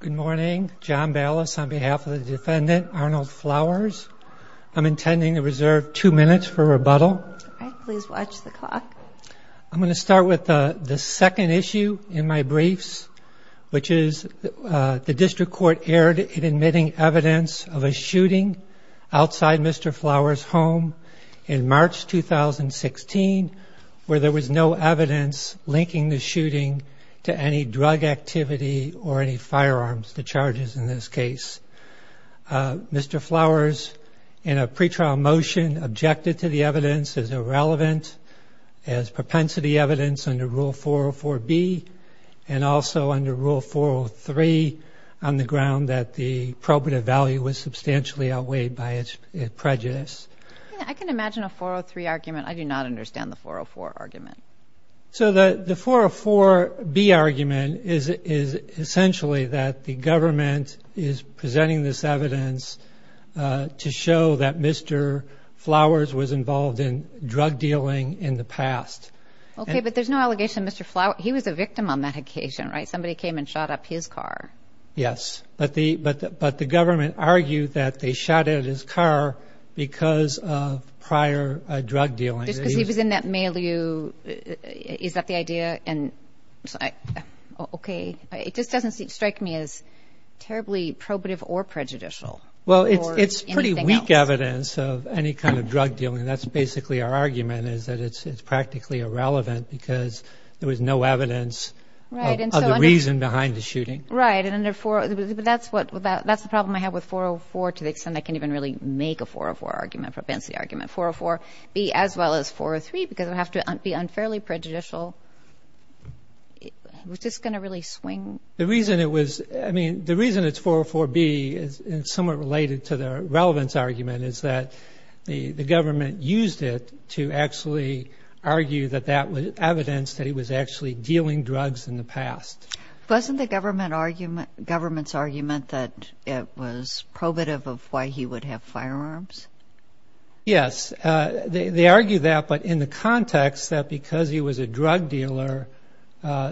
Good morning. John Ballas on behalf of the defendant, Arnold Flowers. I'm intending to reserve two minutes for rebuttal. Please watch the clock. I'm going to start with the second issue in my briefs, which is the District Court erred in admitting evidence of a shooting outside Mr. Flowers' home in March 2016, where there was no evidence linking the shooting to any drug activity or any firearms, the charges in this case. Mr. Flowers, in a pretrial motion, objected to the evidence as irrelevant, as propensity evidence under Rule 404B, and also under Rule 403 on the ground that the probative value was substantially outweighed by its prejudice. I can imagine a 403 argument. I do not understand the 404 argument. So the 404B argument is essentially that the government is presenting this evidence to show that Mr. Flowers was involved in drug dealing in the past. Okay, but there's no allegation Mr. Flowers, he was a victim on that occasion, right? Somebody came and shot up his car. Yes, but the government argued that they shot at his car because of prior drug dealing. Just because he was in that milieu, is that the idea? Okay. It just doesn't strike me as terribly probative or prejudicial. Well, it's pretty weak evidence of any kind of drug dealing. That's basically our argument, is that it's practically irrelevant because there was no evidence of the reason behind the shooting. Right, but that's the problem I have with 404 to the extent I can even really make a 404 argument, propensity argument. 404B as well as 403, because it would have to be unfairly prejudicial. It was just going to really swing. The reason it was, I mean, the reason it's 404B is somewhat related to the relevance argument is that the government used it to actually argue that that was evidence that he was actually dealing drugs in the past. Wasn't the government's argument that it was probative of why he would have firearms? Yes, they argue that, but in the context that because he was a drug dealer,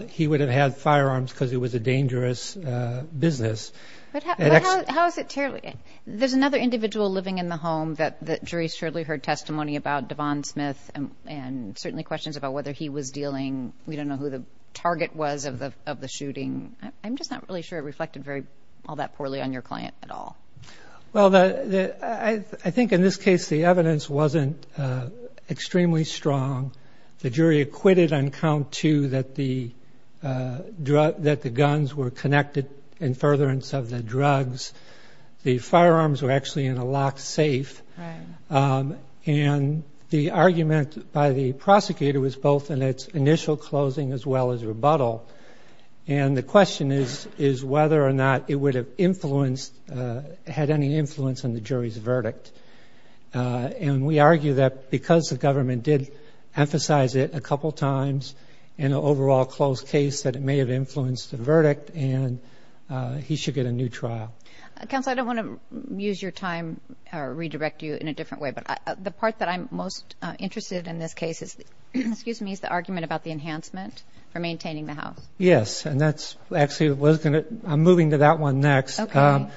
he would have had firearms because it was a dangerous business. But how is it terribly? There's another individual living in the home that the jury surely heard testimony about, Devon Smith, and certainly questions about whether he was dealing. We don't know who the target was of the shooting. I'm just not really sure it reflected all that poorly on your client at all. Well, I think in this case the evidence wasn't extremely strong. The jury acquitted on count two that the guns were connected in furtherance of the drugs. The firearms were actually in a locked safe. And the argument by the prosecutor was both in its initial closing as well as rebuttal. And the question is, is whether or not it would have influenced, had any influence on the jury's verdict. And we argue that because the government did emphasize it a couple of times in an overall closed case, that it may have influenced the verdict and he should get a new trial. Counsel, I don't want to use your time or redirect you in a different way, but the part that I'm most interested in this case is, excuse me, is the argument about the enhancement for maintaining the house. Yes. And that's actually what was going to – I'm moving to that one next. Okay. And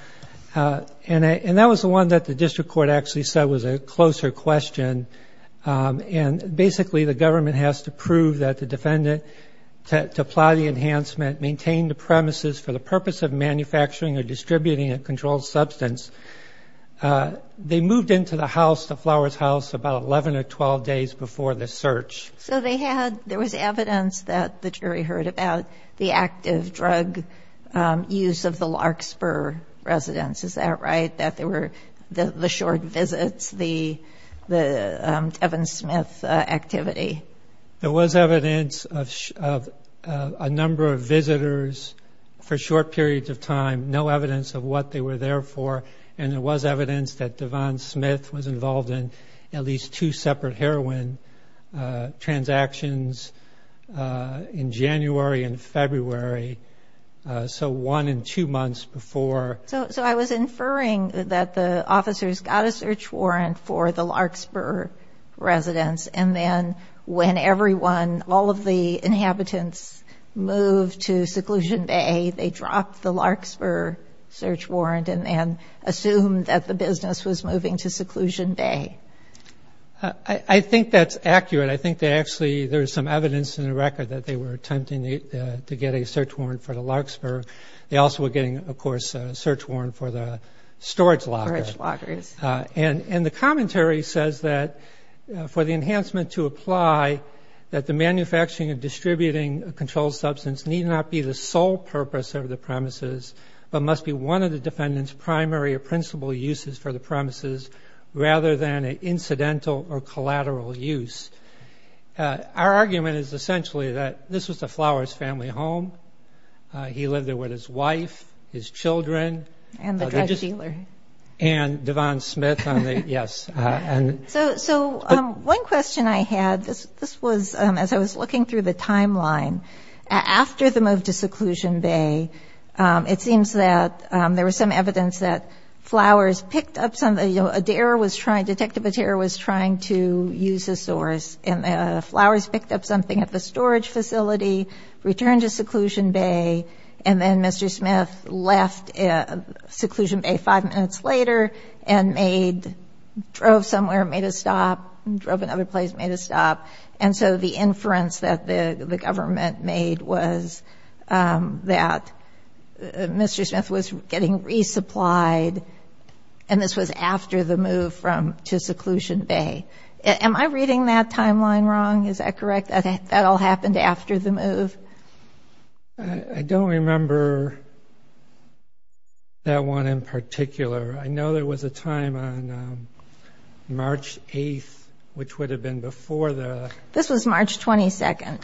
that was the one that the district court actually said was a closer question. And basically the government has to prove that the defendant, to apply the enhancement, maintain the premises for the purpose of manufacturing or distributing a controlled substance. They moved into the house, the Flowers house, about 11 or 12 days before the search. So they had – there was evidence that the jury heard about the active drug use of the Larkspur residence. Is that right, that there were the short visits, the Evan Smith activity? There was evidence of a number of visitors for short periods of time, no evidence of what they were there for. And there was evidence that Devon Smith was involved in at least two separate heroin transactions in January and February. So one and two months before. So I was inferring that the officers got a search warrant for the Larkspur residence and then when everyone, all of the inhabitants moved to Seclusion Bay, they dropped the Larkspur search warrant and then assumed that the business was moving to Seclusion Bay. I think that's accurate. I think they actually – there's some evidence in the record that they were attempting to get a search warrant for the Larkspur. They also were getting, of course, a search warrant for the storage locker. Storage lockers. And the commentary says that for the enhancement to apply, that the manufacturing and distributing of controlled substance need not be the sole purpose of the premises but must be one of the defendant's primary or principal uses for the premises rather than an incidental or collateral use. Our argument is essentially that this was the Flowers family home. He lived there with his wife, his children. And the drug dealer. Okay. And Devon Smith on the – yes. So one question I had, this was as I was looking through the timeline, after the move to Seclusion Bay, it seems that there was some evidence that Flowers picked up something. Adair was trying – Detective Adair was trying to use a source and Flowers picked up something at the storage facility, returned to Seclusion Bay, and then Mr. Smith left Seclusion Bay five minutes later and made – drove somewhere, made a stop, drove another place, made a stop. And so the inference that the government made was that Mr. Smith was getting resupplied and this was after the move from – to Seclusion Bay. Am I reading that timeline wrong? Is that correct? That all happened after the move? I don't remember that one in particular. I know there was a time on March 8th, which would have been before the – This was March 22nd.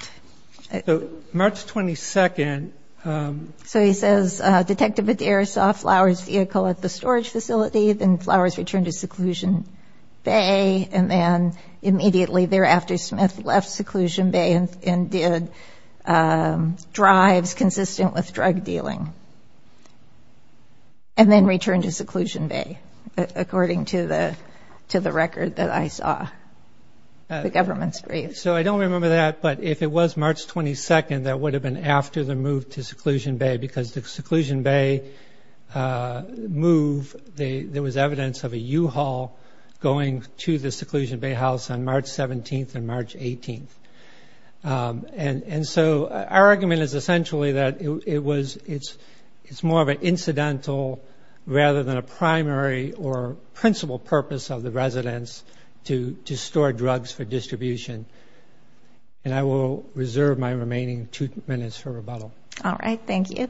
So March 22nd – So he says Detective Adair saw Flowers' vehicle at the storage facility, then Flowers returned to Seclusion Bay, and then immediately thereafter Smith left Seclusion Bay and did drives consistent with drug dealing, and then returned to Seclusion Bay, according to the record that I saw. The government's brief. So I don't remember that, but if it was March 22nd, that would have been after the move to Seclusion Bay, because the Seclusion Bay move, there was evidence of a U-Haul going to the Seclusion Bay house on March 17th and March 18th. And so our argument is essentially that it's more of an incidental rather than a primary or principal purpose of the residence to store drugs for distribution. And I will reserve my remaining two minutes for rebuttal. All right. Thank you.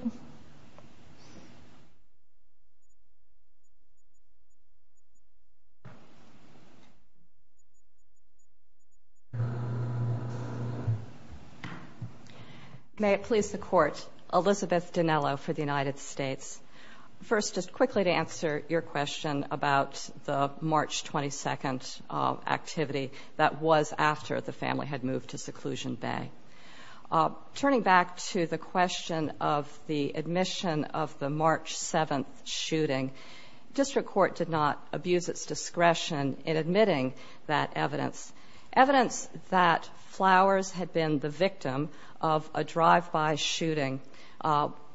May it please the Court. Elizabeth Dinello for the United States. First, just quickly to answer your question about the March 22nd activity that was after the family had moved to Seclusion Bay. Turning back to the question of the admission of the March 7th shooting, district court did not abuse its discretion in admitting that evidence. Evidence that Flowers had been the victim of a drive-by shooting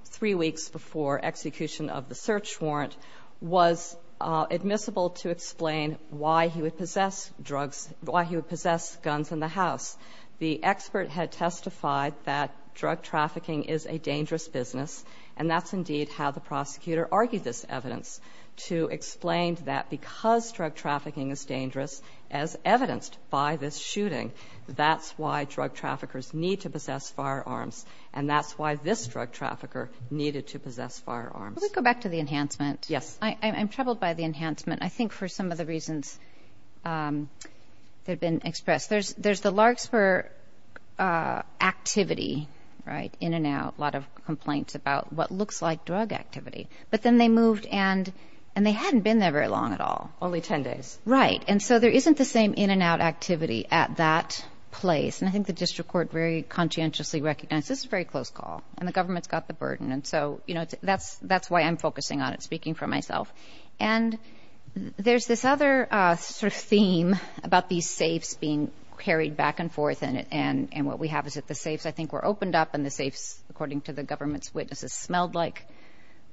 three weeks before execution of the search warrant was admissible to explain why he would possess drugs, why he would possess guns in the house. The expert had testified that drug trafficking is a dangerous business, and that's indeed how the prosecutor argued this evidence, to explain that because drug trafficking is dangerous, as evidenced by this shooting, that's why drug traffickers need to possess firearms, and that's why this drug trafficker needed to possess firearms. Can we go back to the enhancement? Yes. I'm troubled by the enhancement. I think for some of the reasons that have been expressed. There's the Larkspur activity, right, in and out, a lot of complaints about what looks like drug activity, but then they moved and they hadn't been there very long at all. Only 10 days. Right, and so there isn't the same in and out activity at that place, and I think the district court very conscientiously recognized this is a very close call, and the government's got the burden, and so, you know, that's why I'm focusing on it, speaking for myself. And there's this other sort of theme about these safes being carried back and forth, and what we have is that the safes, I think, were opened up, and the safes, according to the government's witnesses, smelled like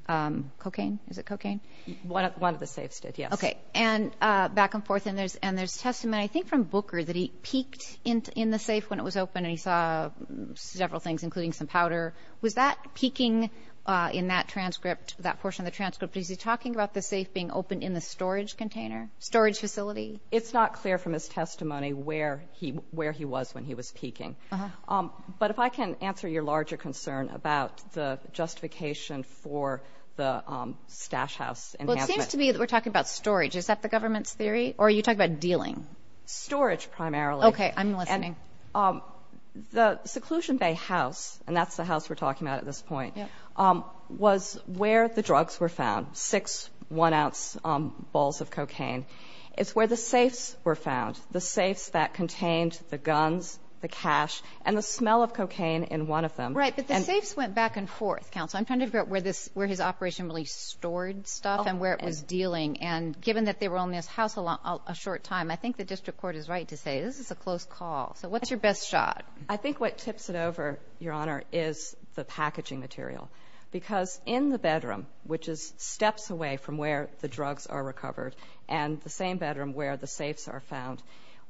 cocaine. Is it cocaine? One of the safes did, yes. Okay. And back and forth, and there's testament, I think, from Booker that he peeked in the safe when it was open, and he saw several things, including some powder. Was that peeking in that transcript, that portion of the transcript, is he talking about the safe being opened in the storage container, storage facility? It's not clear from his testimony where he was when he was peeking. Uh-huh. But if I can answer your larger concern about the justification for the stash house enhancement. Well, it seems to me that we're talking about storage. Is that the government's theory, or are you talking about dealing? Storage, primarily. Okay, I'm listening. And the seclusion bay house, and that's the house we're talking about at this point, was where the drugs were found, six one-ounce balls of cocaine. It's where the safes were found, the safes that contained the guns, the cash, and the smell of cocaine in one of them. Right. But the safes went back and forth, counsel. I'm trying to figure out where his operation really stored stuff and where it was dealing. And given that they were on this house a short time, I think the district court is right to say this is a close call. So what's your best shot? I think what tips it over, Your Honor, is the packaging material. Because in the bedroom, which is steps away from where the drugs are recovered, and the same bedroom where the safes are found,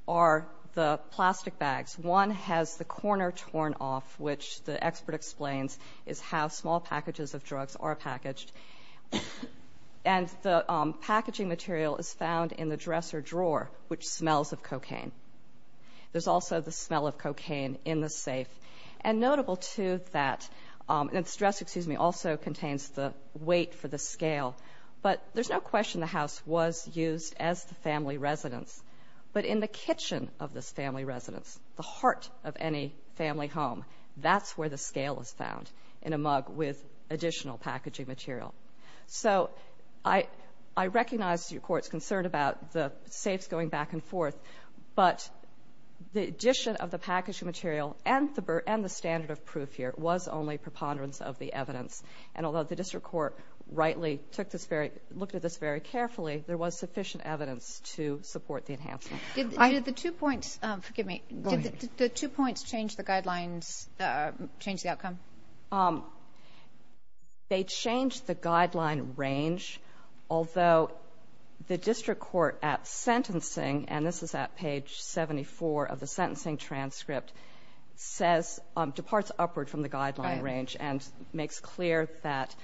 are the plastic bags. One has the corner torn off, which the expert explains is how small packages of drugs are packaged. And the packaging material is found in the dresser drawer, which smells of cocaine. There's also the smell of cocaine in the safe. And notable, too, that the dresser, excuse me, also contains the weight for the scale. But there's no question the house was used as the family residence. But in the kitchen of this family residence, the heart of any family home, that's where the scale is found in a mug with additional packaging material. So I recognize your Court's concern about the safes going back and forth. But the addition of the packaging material and the standard of proof here was only preponderance of the evidence. And although the district court rightly took this very – looked at this very carefully, there was sufficient evidence to support the enhancement. Did the two points – forgive me. Go ahead. Did the two points change the guidelines, change the outcome? They changed the guideline range, although the district court at sentencing – and this is at page 74 of the sentencing transcript – says – departs upward from the guideline range and makes clear that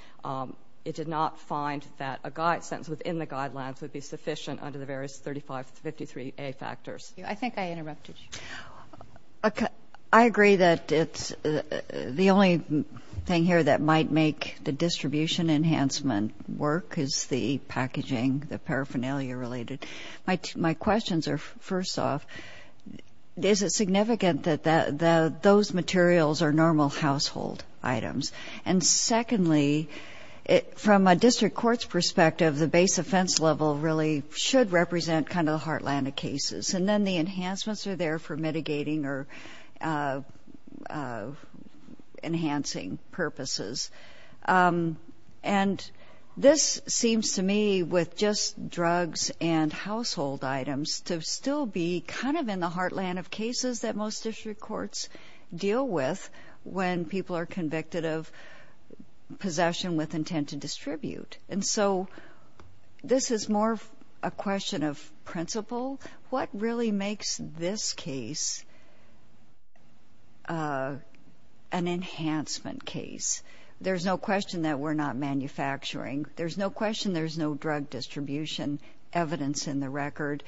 it did not find that a sentence within the guidelines would be sufficient under the various 3553A factors. I think I interrupted you. I agree that it's – the only thing here that might make the distribution enhancement work is the packaging, the paraphernalia-related. My questions are, first off, is it significant that those materials are normal household items? And secondly, from a district court's perspective, the base offense level really should represent kind of the heartland of cases. And then the enhancements are there for mitigating or enhancing purposes. And this seems to me, with just drugs and household items, to still be kind of in the heartland of cases that most district courts deal with when people are convicted of possession with intent to distribute. And so this is more a question of principle. What really makes this case an enhancement case? There's no question that we're not manufacturing. There's no question there's no drug distribution evidence in the record.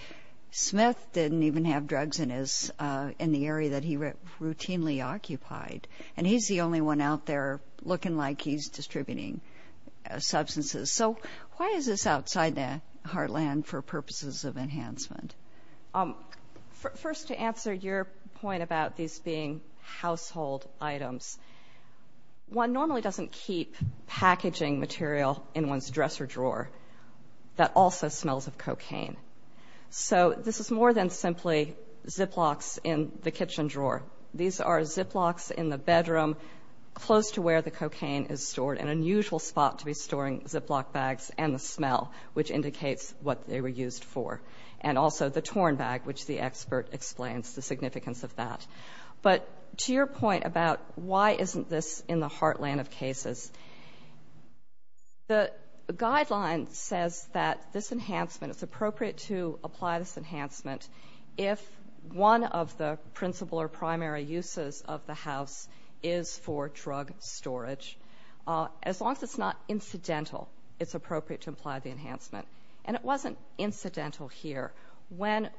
Smith didn't even have drugs in the area that he routinely occupied. And he's the only one out there looking like he's distributing substances. So why is this outside the heartland for purposes of enhancement? First, to answer your point about these being household items, one normally doesn't keep packaging material in one's dresser drawer that also smells of cocaine. So this is more than simply Ziplocs in the kitchen drawer. These are Ziplocs in the bedroom close to where the cocaine is stored, an unusual spot to be storing Ziploc bags and the smell, which indicates what they were used for, and also the torn bag, which the expert explains the significance of that. But to your point about why isn't this in the heartland of cases, the guideline says that this enhancement, it's appropriate to apply this enhancement if one of the As long as it's not incidental, it's appropriate to apply the enhancement. And it wasn't incidental here. When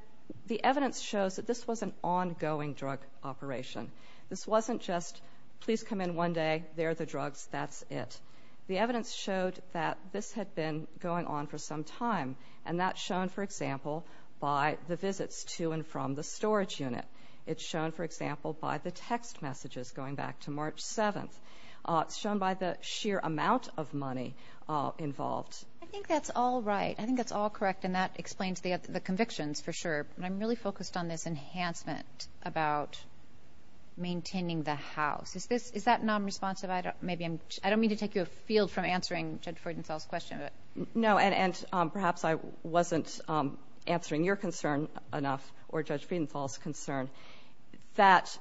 the evidence shows that this was an ongoing drug operation, this wasn't just, please come in one day, there are the drugs, that's it. The evidence showed that this had been going on for some time. And that's shown, for example, by the visits to and from the storage unit. It's shown, for example, by the text messages going back to March 7th. It's shown by the sheer amount of money involved. I think that's all right. I think that's all correct. And that explains the convictions for sure. But I'm really focused on this enhancement about maintaining the house. Is that nonresponsive? I don't mean to take you afield from answering Judge Friedenthal's question. No, and perhaps I wasn't answering your concern enough or Judge Friedenthal's concern, that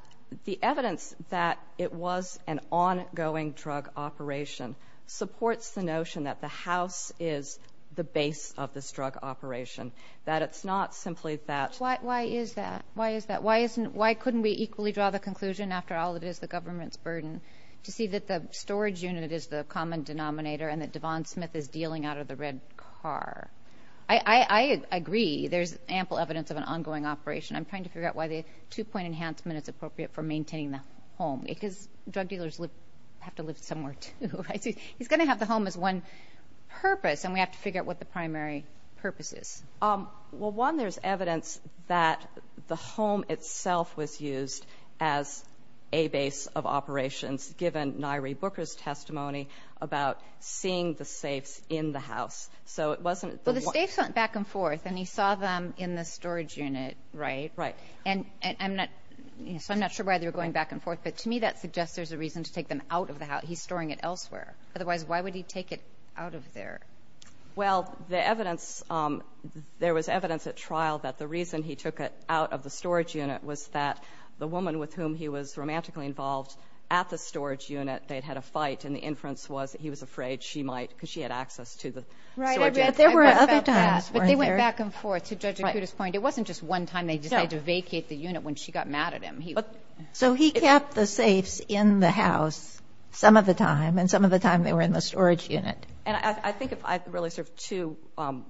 the evidence that it was an ongoing drug operation supports the notion that the house is the base of this drug operation. That it's not simply that. Why is that? Why couldn't we equally draw the conclusion, after all it is the government's burden, to see that the storage unit is the common denominator and that Devon Smith is dealing out of the red car? I agree there's ample evidence of an ongoing operation. I'm trying to figure out why the two-point enhancement is appropriate for maintaining the home. Because drug dealers have to live somewhere, too. He's going to have the home as one purpose, and we have to figure out what the primary purpose is. Well, one, there's evidence that the home itself was used as a base of operations, given Nyree Booker's testimony about seeing the safes in the house. So it wasn't the one. But he went back and forth, and he saw them in the storage unit, right? Right. And I'm not so I'm not sure why they were going back and forth, but to me that suggests there's a reason to take them out of the house. He's storing it elsewhere. Otherwise, why would he take it out of there? Well, the evidence, there was evidence at trial that the reason he took it out of the storage unit was that the woman with whom he was romantically involved at the storage unit, they'd had a fight, and the inference was that he was afraid she might because she had access to the storage unit. But there were other times, weren't there? But they went back and forth. To Judge Akuta's point, it wasn't just one time they decided to vacate the unit when she got mad at him. So he kept the safes in the house some of the time, and some of the time they were in the storage unit. And I think if I really sort of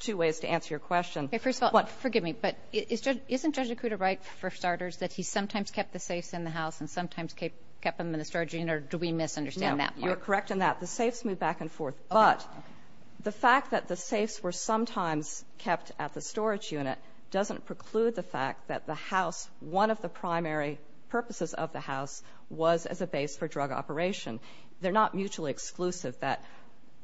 two ways to answer your question. First of all, forgive me, but isn't Judge Akuta right, for starters, that he sometimes kept the safes in the house and sometimes kept them in the storage unit, or do we misunderstand that part? No, you're correct in that. The safes moved back and forth. But the fact that the safes were sometimes kept at the storage unit doesn't preclude the fact that the house, one of the primary purposes of the house, was as a base for drug operation. They're not mutually exclusive, that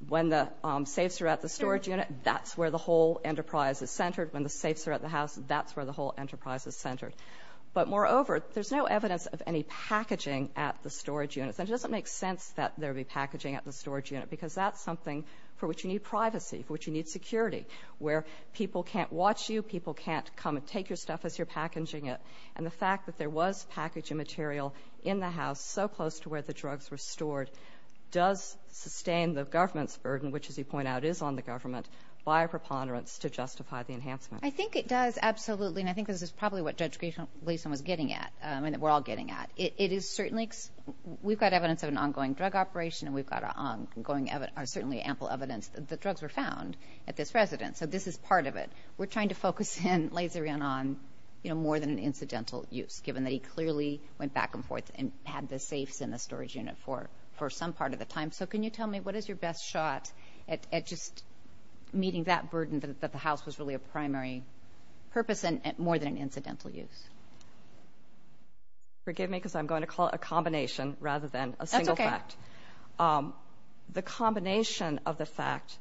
when the safes are at the storage unit, that's where the whole enterprise is centered. When the safes are at the house, that's where the whole enterprise is centered. But moreover, there's no evidence of any packaging at the storage unit. And it doesn't make sense that there would be packaging at the storage unit, because that's something for which you need privacy, for which you need security, where people can't watch you, people can't come and take your stuff as you're packaging it. And the fact that there was packaging material in the house so close to where the drugs were stored does sustain the government's burden, which, as you point out, is on the government, by a preponderance to justify the enhancement. I think it does, absolutely. And I think this is probably what Judge Gleeson was getting at, and that we're all getting at. It is certainly, we've got evidence of an ongoing drug operation, and we've got certainly ample evidence that the drugs were found at this residence. So this is part of it. We're trying to focus in, laser in, on more than an incidental use, given that he clearly went back and forth and had the safes in the storage unit for some part of the time. So can you tell me, what is your best shot at just meeting that burden, that the house was really a primary purpose, and more than an incidental use? Forgive me, because I'm going to call it a combination rather than a single fact. That's okay. The combination of the fact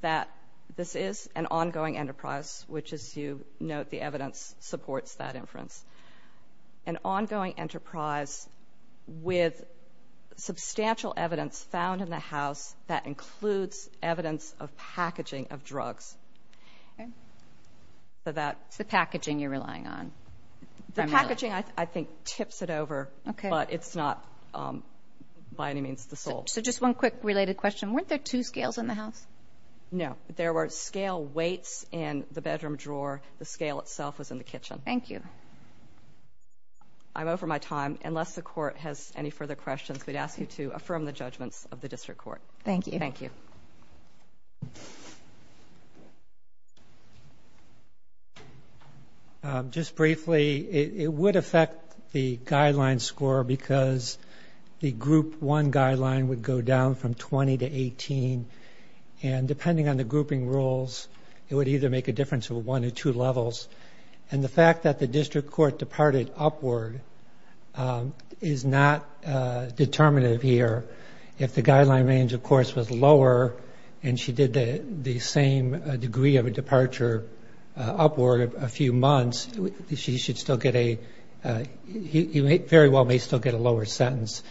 that this is an ongoing enterprise, which, as you note, the evidence supports that inference, an ongoing enterprise with substantial evidence found in the house that includes evidence of packaging of drugs. Okay. So that's the packaging you're relying on. The packaging, I think, tips it over, but it's not by any means the sole. So just one quick related question. Weren't there two scales in the house? No. There were scale weights in the bedroom drawer. The scale itself was in the kitchen. Thank you. I'm over my time. Unless the Court has any further questions, we'd ask you to affirm the judgments of the District Court. Thank you. Thank you. Thank you. Just briefly, it would affect the guideline score because the Group 1 guideline would go down from 20 to 18, and depending on the grouping rules, it would either make a difference of one or two levels. And the fact that the District Court departed upward is not determinative here. If the guideline range, of course, was lower and she did the same degree of a departure upward a few months, she should still get a – he very well may still get a lower sentence.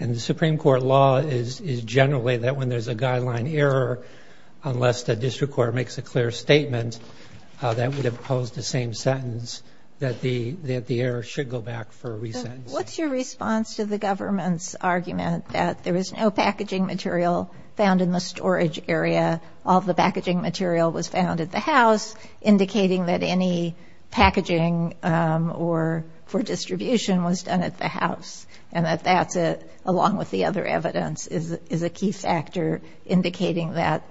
And the Supreme Court law is generally that when there's a guideline error, unless the District Court makes a clear statement that would impose the same sentence, that the error should go back for a re-sentence. What's your response to the government's argument that there was no packaging material found in the storage area, all the packaging material was found at the house, indicating that any packaging or – for distribution was done at the house, and that that's a – along with the other evidence is a key factor indicating that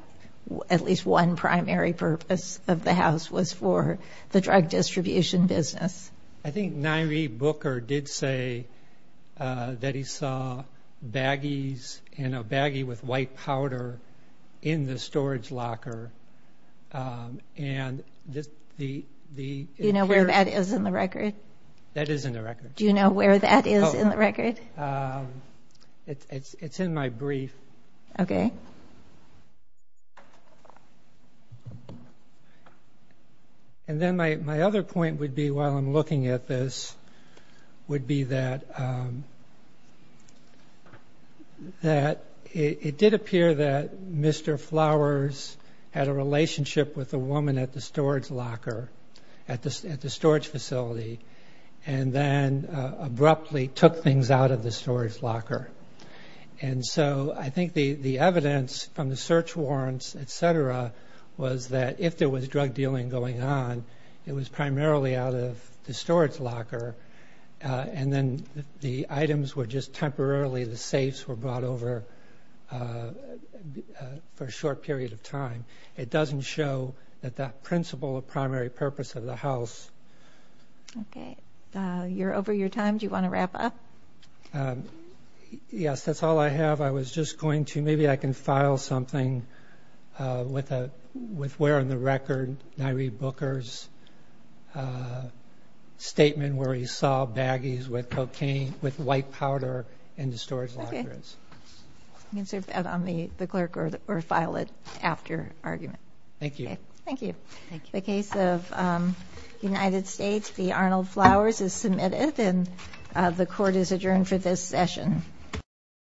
at least one primary purpose of the house was for the drug distribution business? I think Nyree Booker did say that he saw baggies and a baggie with white powder in the storage locker, and the – Do you know where that is in the record? That is in the record. Do you know where that is in the record? It's in my brief. Okay. And then my other point would be, while I'm looking at this, would be that it did appear that Mr. Flowers had a relationship with a woman at the storage locker, at the storage facility, and then abruptly took things out of the storage locker. And so I think the evidence from the search warrants, et cetera, was that if there was drug dealing going on, it was primarily out of the storage locker, and then the items were just temporarily – the safes were brought over for a short period of time. It doesn't show that that principle of primary purpose of the house – Okay. You're over your time. Do you want to wrap up? Yes. That's all I have. I was just going to – maybe I can file something with where in the record Nyree Booker's statement where he saw baggies with cocaine – with white powder in the storage lockers. Okay. You can serve that on the clerk or file it after argument. Thank you. Okay. Thank you. The case of United States v. Arnold Flowers is submitted, and the Court is adjourned for this session.